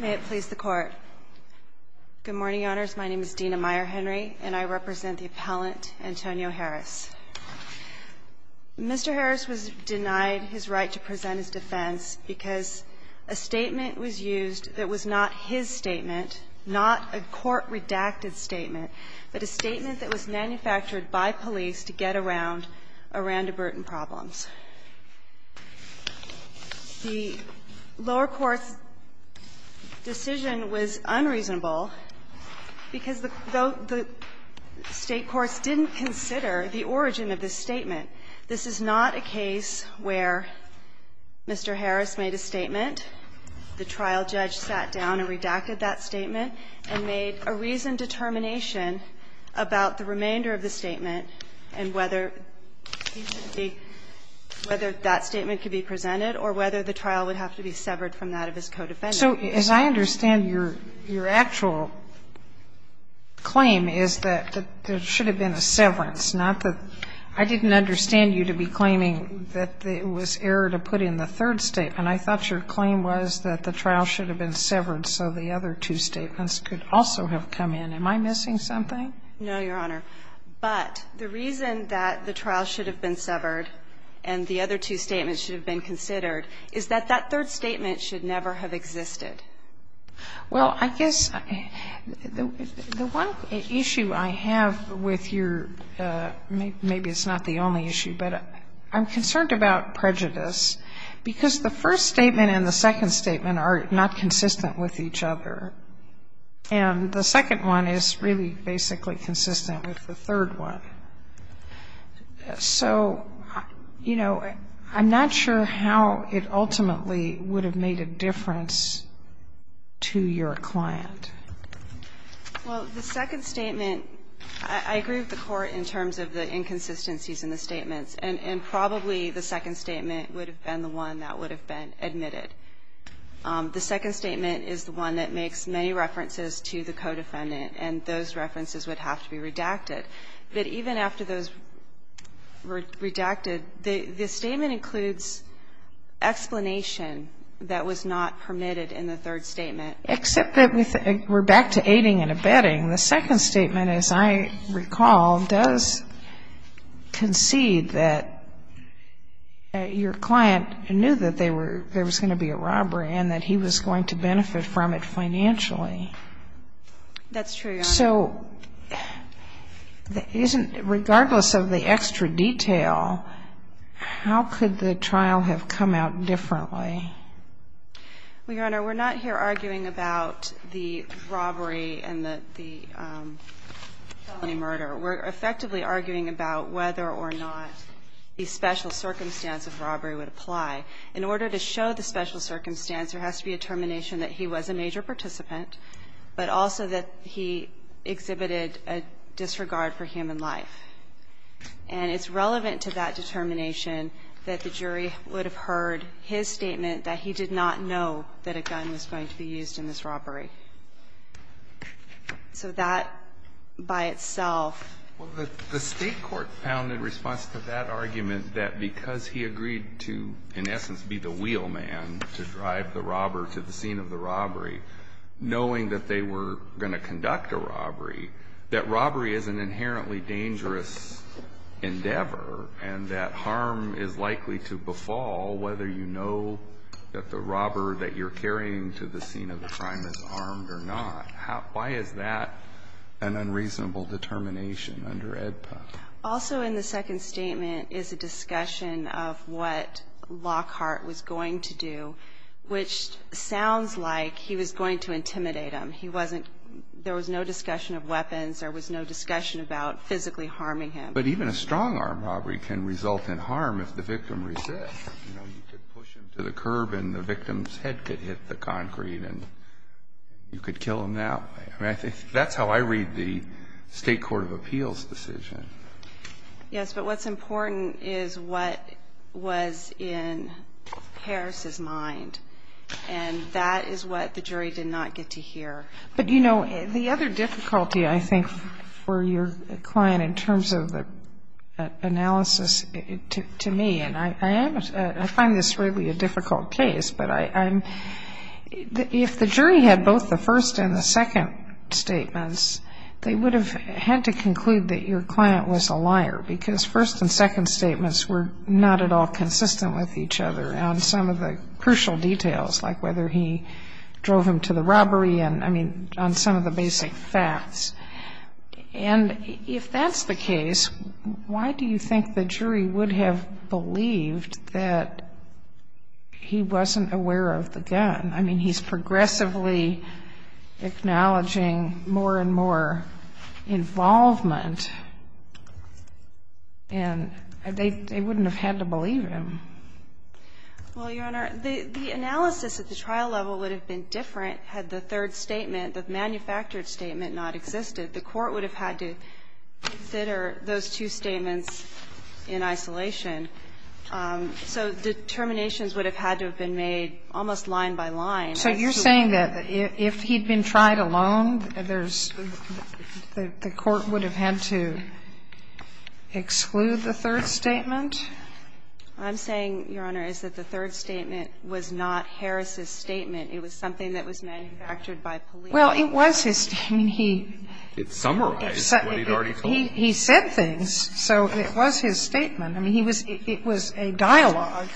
May it please the Court. Good morning, Your Honors. My name is Dena Meyer-Henry, and I represent the appellant Antonio Harris. Mr. Harris was denied his right to present his defense because a statement was used that was not his statement, not a court-redacted statement, but a statement that was manufactured by police to get around to Bruton problems. The lower court's decision was unreasonable because the State courts didn't consider the origin of this statement. This is not a case where Mr. Harris made a statement, the trial judge sat down and redacted that statement, and made a reasoned determination about the remainder of the statement and whether that statement could be presented or whether the trial would have to be severed from that of his co-defendant. So as I understand, your actual claim is that there should have been a severance, not that I didn't understand you to be claiming that it was error to put in the third statement. I thought your claim was that the trial should have been severed so the other two statements could also have come in. Am I missing something? No, Your Honor. But the reason that the trial should have been severed and the other two statements should have been considered is that that third statement should never have existed. Well, I guess the one issue I have with your – maybe it's not the only issue, but I'm concerned about prejudice, because the first statement and the second statement are not consistent with each other. And the second one is really basically consistent with the third one. So, you know, I'm not sure how it ultimately would have made a difference to your client. Well, the second statement, I agree with the Court in terms of the inconsistencies in the statements, and probably the second statement would have been the one that would have been admitted. The second statement is the one that makes many references to the co-defendant, and those references would have to be redacted. But even after those were redacted, the statement includes explanation that was not permitted in the third statement. Except that we're back to aiding and abetting. The second statement, as I recall, does concede that your client knew that they were going to be a robbery and that he was going to benefit from it financially. That's true, Your Honor. So regardless of the extra detail, how could the trial have come out differently? Well, Your Honor, we're not here arguing about the robbery and the felony murder. We're effectively arguing about whether or not the special circumstance of robbery would apply. In order to show the special circumstance, there has to be a determination that he was a major participant, but also that he exhibited a disregard for human life. And it's relevant to that determination that the jury would have heard his statement that he did not know that a gun was going to be used in this robbery. So that by itself --" I mean, in essence, be the wheelman to drive the robber to the scene of the robbery, knowing that they were going to conduct a robbery, that robbery is an inherently dangerous endeavor, and that harm is likely to befall whether you know that the robber that you're carrying to the scene of the crime is armed or not. Why is that an unreasonable determination under AEDPA? Also in the second statement is a discussion of what Lockhart was going to do, which sounds like he was going to intimidate him. He wasn't --" there was no discussion of weapons. There was no discussion about physically harming him. But even a strong armed robbery can result in harm if the victim resists. You know, you could push him to the curb and the victim's head could hit the concrete and you could kill him that way. I mean, I think that's how I read the State Court of Appeals decision. Yes, but what's important is what was in Harris's mind. And that is what the jury did not get to hear. But, you know, the other difficulty, I think, for your client in terms of the analysis to me, and I find this really a difficult case, but I'm --" if the jury had both the first and second statements, they would have had to conclude that your client was a liar because first and second statements were not at all consistent with each other on some of the crucial details, like whether he drove him to the robbery and, I mean, on some of the basic facts. And if that's the case, why do you think the jury would have believed that he wasn't aware of the gun? I mean, he's progressively acknowledging more and more involvement, and they wouldn't have had to believe him. Well, Your Honor, the analysis at the trial level would have been different had the third statement, the manufactured statement, not existed. The Court would have had to consider those two statements in isolation. So determinations would have had to have been made almost line by line. So you're saying that if he'd been tried alone, there's the Court would have had to exclude the third statement? I'm saying, Your Honor, is that the third statement was not Harris's statement. It was something that was manufactured by police. Well, it was his statement. He said things. So it was his statement. I mean, he was – it was a dialogue,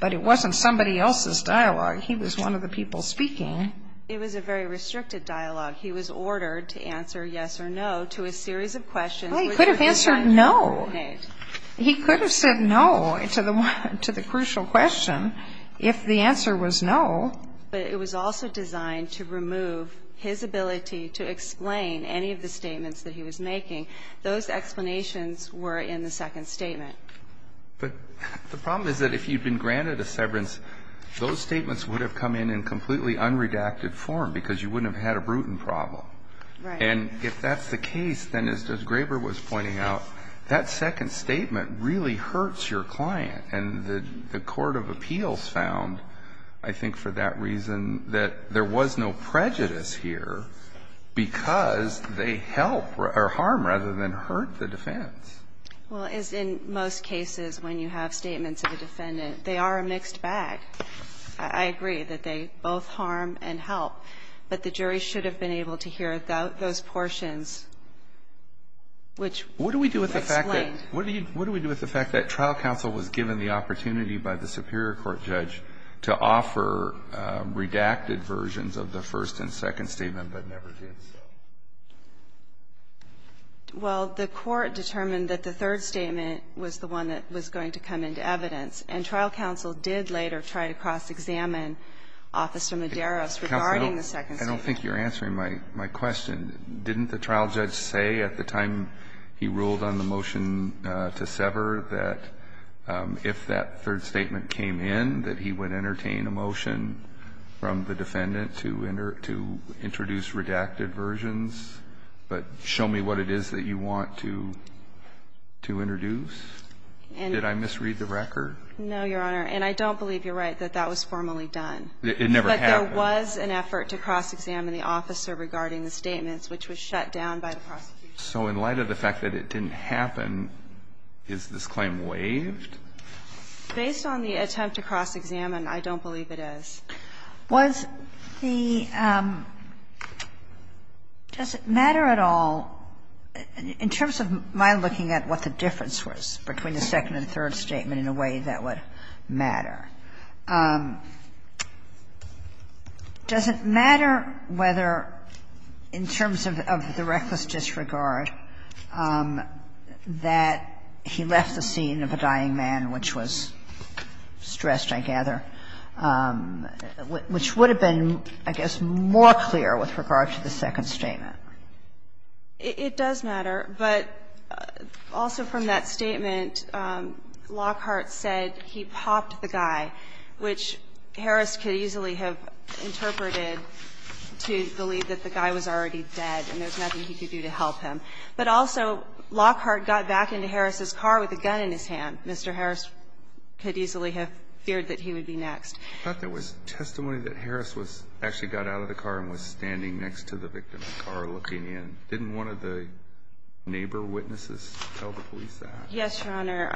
but it wasn't somebody else's dialogue. He was one of the people speaking. It was a very restricted dialogue. He was ordered to answer yes or no to a series of questions, which were designed to eliminate. Well, he could have answered no. He could have said no to the crucial question if the answer was no. But it was also designed to remove his ability to explain any of the statements that he was making. Those explanations were in the second statement. But the problem is that if you'd been granted a severance, those statements would have come in in completely unredacted form because you wouldn't have had a Bruton problem. Right. And if that's the case, then as Graber was pointing out, that second statement really hurts your client. And the court of appeals found, I think, for that reason, that there was no prejudice here because they help or harm rather than hurt the defense. Well, as in most cases when you have statements of a defendant, they are a mixed bag. I agree that they both harm and help. But the jury should have been able to hear those portions, which explain. What do we do with the fact that trial counsel was given the opportunity by the superior court judge to offer redacted versions of the first and second statement but never did so? Well, the court determined that the third statement was the one that was going to come into evidence. And trial counsel did later try to cross-examine Officer Medeiros regarding the second statement. Counsel, I don't think you're answering my question. Didn't the trial judge say at the time he ruled on the motion to sever that if that third statement came in, that he would entertain a motion from the defendant to introduce redacted versions, but show me what it is that you want to introduce? Did I misread the record? No, Your Honor. And I don't believe you're right that that was formally done. It never happened. But there was an effort to cross-examine the officer regarding the statements, which was shut down by the prosecution. So in light of the fact that it didn't happen, is this claim waived? Based on the attempt to cross-examine, I don't believe it is. Was the – does it matter at all, in terms of my looking at what the difference was between the second and third statement in a way that would matter, does it matter whether, in terms of the reckless disregard, that he left the scene of a dying man, which was stressed, I gather, which would have been, I guess, more clear with regard to the second statement? It does matter. But also from that statement, Lockhart said he popped the guy, which Harris could easily have interpreted to believe that the guy was already dead and there was nothing he could do to help him. But also Lockhart got back into Harris's car with a gun in his hand. Mr. Harris could easily have feared that he would be next. I thought there was testimony that Harris was – actually got out of the car and was standing next to the victim of the car looking in. Didn't one of the neighbor witnesses tell the police that? Yes, Your Honor.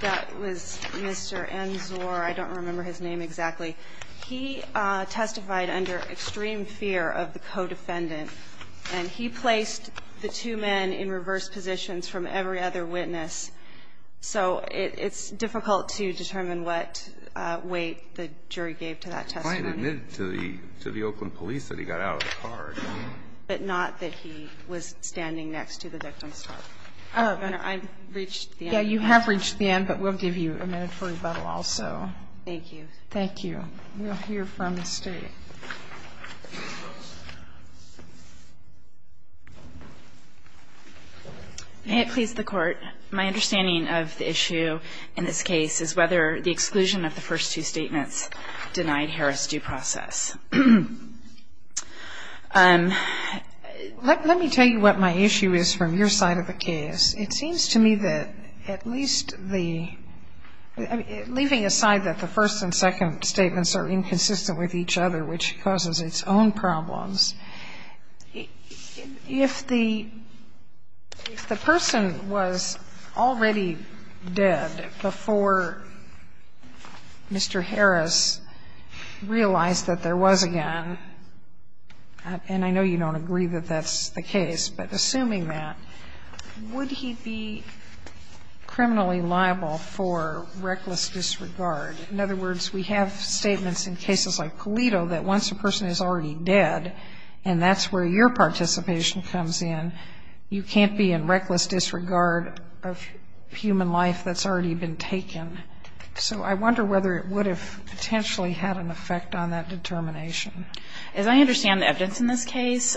That was Mr. Enzor. I don't remember his name exactly. He testified under extreme fear of the co-defendant. And he placed the two men in reverse positions from every other witness. So it's difficult to determine what weight the jury gave to that testimony. The client admitted to the Oakland police that he got out of the car. But not that he was standing next to the victim's car. Your Honor, I've reached the end. Yeah, you have reached the end, but we'll give you a minute for rebuttal also. Thank you. Thank you. We'll hear from the State. May it please the Court, my understanding of the issue in this case is whether the exclusion of the first two statements denied Harris due process. Let me tell you what my issue is from your side of the case. It seems to me that at least the – leaving aside that the first and second statements are inconsistent with each other, which causes its own problems, if the – if the person was already dead before Mr. Harris realized that there was again, and I know you don't agree that that's the case, but assuming that, would he be criminally liable for reckless disregard? In other words, we have statements in cases like Pulido that once a person is already dead, and that's where your participation comes in, you can't be in reckless disregard of human life that's already been taken. So I wonder whether it would have potentially had an effect on that determination. As I understand the evidence in this case,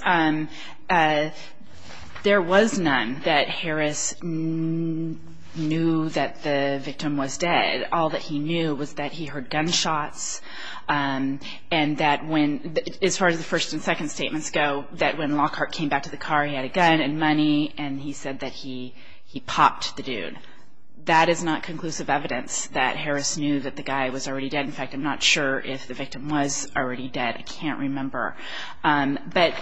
there was none that Harris knew that the victim was dead. All that he knew was that he heard gunshots, and that when – as far as the first and second statements go, that when Lockhart came back to the car, he had a gun and money, and he said that he popped the dude. That is not conclusive evidence that Harris knew that the guy was already dead. In fact, I'm not sure if the victim was already dead. I can't remember. But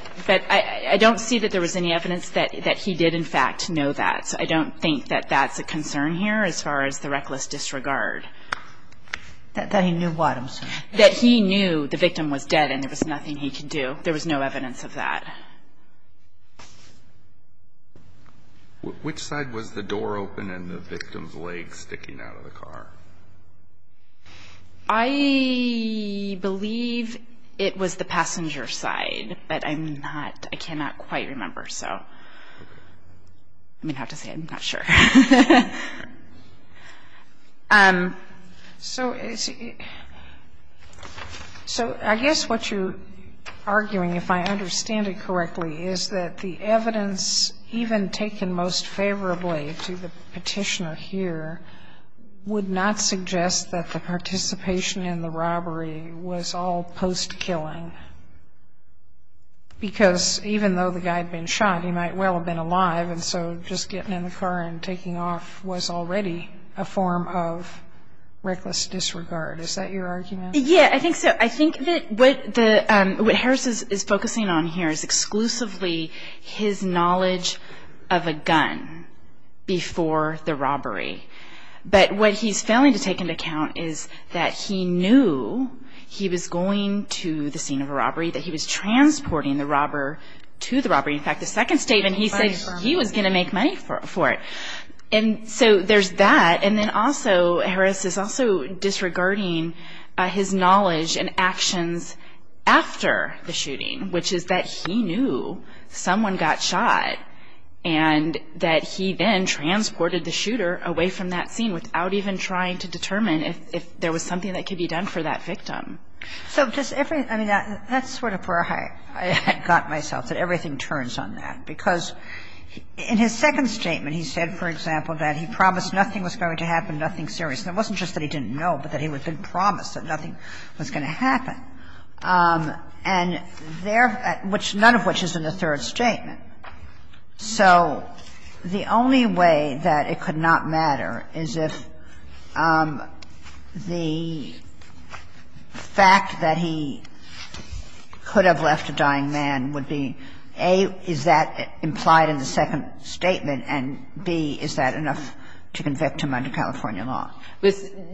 I don't see that there was any evidence that he did, in fact, know that. I don't think that that's a concern here as far as the reckless disregard. That he knew what? I'm sorry. That he knew the victim was dead and there was nothing he could do. There was no evidence of that. Which side was the door open and the victim's leg sticking out of the car? I believe it was the passenger side, but I'm not – I cannot quite remember. So I'm going to have to say I'm not sure. So I guess what you're arguing, if I understand it correctly, is that the evidence even taken most favorably to the petitioner here would not suggest that the participation in the robbery was all post-killing. Because even though the guy had been shot, he might well have been alive. And so just getting in the car and taking off was already a form of reckless disregard. Is that your argument? Yeah, I think so. I think that what Harris is focusing on here is exclusively his knowledge of a gun before the robbery. But what he's failing to take into account is that he knew he was going to the scene of a robbery, that he was transporting the robber to the robbery. In fact, the second statement he said he was going to make money for it. And so there's that. And then also Harris is also disregarding his knowledge and actions after the shooting, which is that he knew someone got shot and that he then transported the And so he's not taking any of that information away from that scene without even trying to determine if there was something that could be done for that victim. So does every – I mean, that's sort of where I got myself, that everything turns on that. Because in his second statement, he said, for example, that he promised nothing was going to happen, nothing serious. And it wasn't just that he didn't know, but that he had been promised that nothing was going to happen. And there – which – none of which is in the third statement. So the only way that it could not matter is if the fact that he could have left a dying man would be, A, is that implied in the second statement, and, B, is that enough to convict him under California law?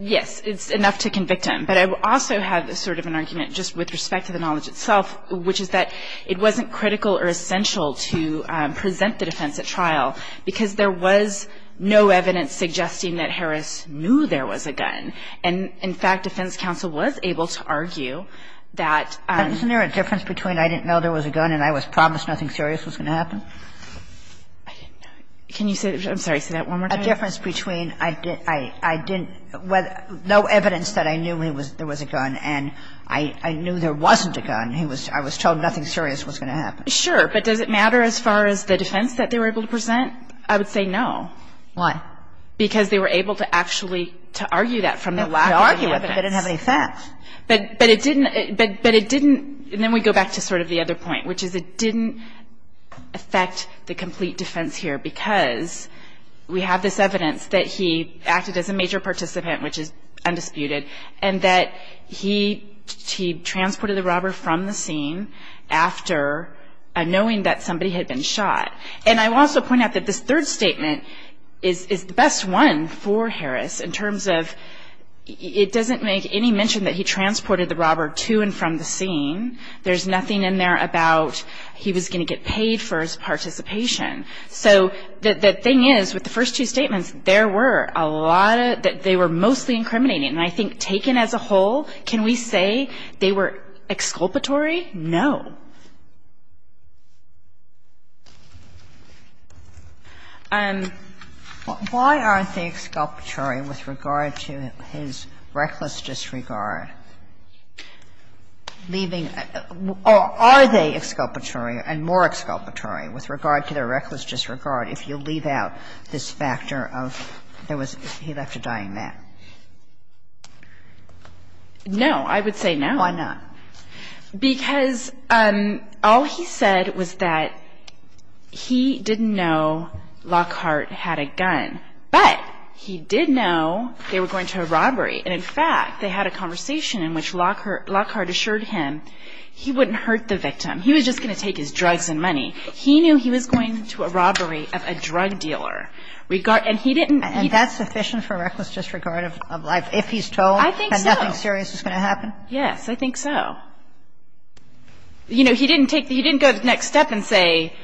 Yes. It's enough to convict him. But I also have sort of an argument just with respect to the knowledge itself, which is that it wasn't critical or essential to present the defense at trial because there was no evidence suggesting that Harris knew there was a gun. And, in fact, defense counsel was able to argue that – Isn't there a difference between I didn't know there was a gun and I was promised nothing serious was going to happen? I didn't know. Can you say – I'm sorry. Say that one more time. Isn't there a difference between I didn't – no evidence that I knew there was a gun and I knew there wasn't a gun. I was told nothing serious was going to happen. Sure. But does it matter as far as the defense that they were able to present? I would say no. Why? Because they were able to actually – to argue that from the lack of evidence. They could argue it, but they didn't have any facts. But it didn't – but it didn't – and then we go back to sort of the other point, which is it didn't affect the complete defense here because we have this evidence that he acted as a major participant, which is undisputed, and that he transported the robber from the scene after knowing that somebody had been shot. And I will also point out that this third statement is the best one for Harris in terms of it doesn't make any mention that he transported the robber to and from the scene. There's nothing in there about he was going to get paid for his participation. So the thing is, with the first two statements, there were a lot of – that they were mostly incriminating. And I think taken as a whole, can we say they were exculpatory? No. Why aren't they exculpatory with regard to his reckless disregard? Leaving – are they exculpatory and more exculpatory with regard to their reckless disregard if you leave out this factor of there was – he left a dying man? No. I would say no. Why not? Because all he said was that he didn't know Lockhart had a gun, but he did know they were going to a robbery. And in fact, they had a conversation in which Lockhart assured him he wouldn't hurt the victim. He was just going to take his drugs and money. He knew he was going to a robbery of a drug dealer. And he didn't – And that's sufficient for reckless disregard of life if he's told? I think so. And nothing serious is going to happen? Yes. I think so. You know, he didn't take – he didn't go to the next step and say –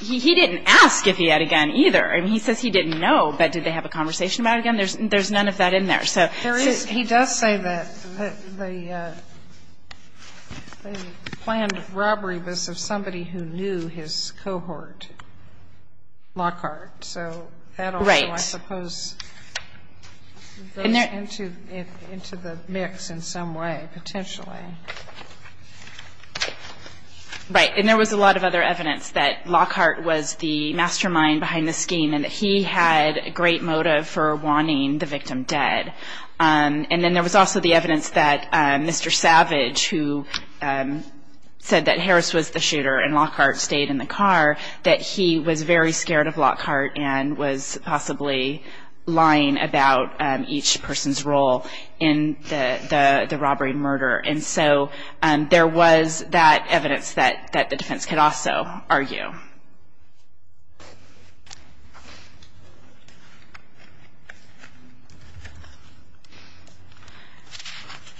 he didn't ask if he had a gun either. I mean, he says he didn't know, but did they have a conversation about a gun? There's none of that in there. There is – he does say that the planned robbery was of somebody who knew his cohort, Lockhart. Right. So I suppose those enter into the mix in some way, potentially. Right. And there was a lot of other evidence that Lockhart was the mastermind behind the scheme and that he had a great motive for wanting the victim dead. And then there was also the evidence that Mr. Savage, who said that Harris was the shooter and Lockhart stayed in the car, that he was very scared of possibly lying about each person's role in the robbery and murder. And so there was that evidence that the defense could also argue.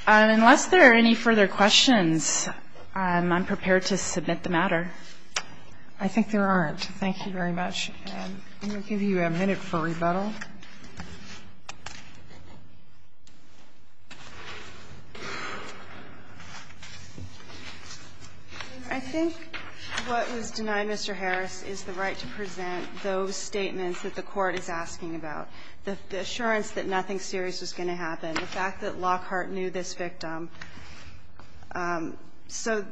Unless there are any further questions, I'm prepared to submit the matter. I think there aren't. Thank you very much. I'm going to give you a minute for rebuttal. I think what was denied Mr. Harris is the right to present those statements that the Court is asking about. The assurance that nothing serious was going to happen. The fact that Lockhart knew this victim. So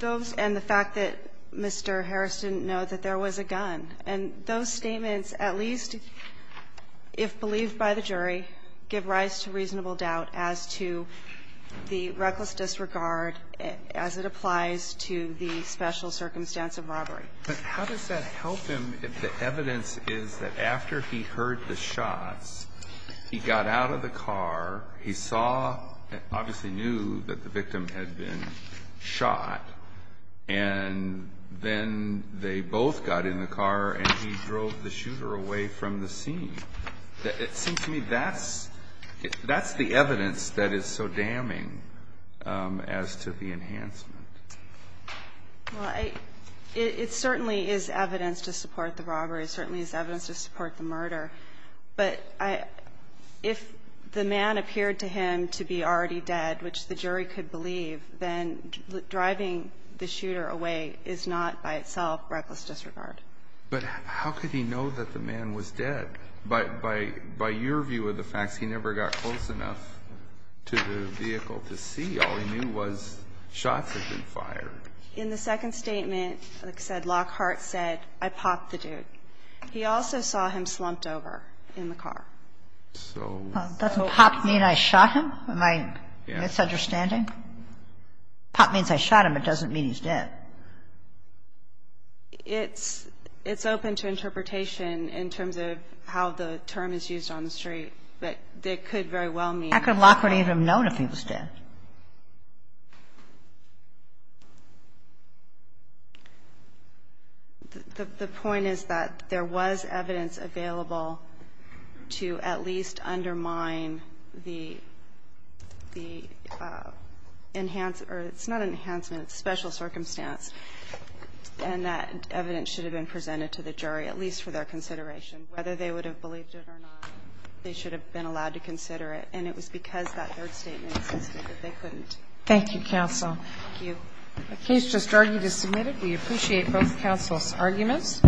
those – and the fact that Mr. Harris didn't know that there was a gun. And those statements, at least if believed by the jury, give rise to reasonable doubt as to the reckless disregard as it applies to the special circumstance of robbery. But how does that help him if the evidence is that after he heard the shots, he got out of the car, he saw, obviously knew that the victim had been shot, and then they both got in the car and he drove the shooter away from the scene? It seems to me that's the evidence that is so damning as to the enhancement. Well, it certainly is evidence to support the robbery. It certainly is evidence to support the murder. But if the man appeared to him to be already dead, which the jury could believe, then driving the shooter away is not by itself reckless disregard. But how could he know that the man was dead? By your view of the facts, he never got close enough to the vehicle to see. All he knew was shots had been fired. In the second statement, it said, Lockhart said, I popped the dude. He also saw him slumped over in the car. So – Doesn't pop mean I shot him? Am I misunderstanding? Pop means I shot him. It doesn't mean he's dead. It's open to interpretation in terms of how the term is used on the street. But it could very well mean – How could Lockhart even have known if he was dead? The point is that there was evidence available to at least undermine the enhancement – it's not enhancement, it's special circumstance. And that evidence should have been presented to the jury, at least for their consideration, whether they would have believed it or not. They should have been allowed to consider it. And it was because that third statement insisted that they couldn't. Thank you, counsel. Thank you. The case just argued is submitted. We appreciate both counsel's arguments.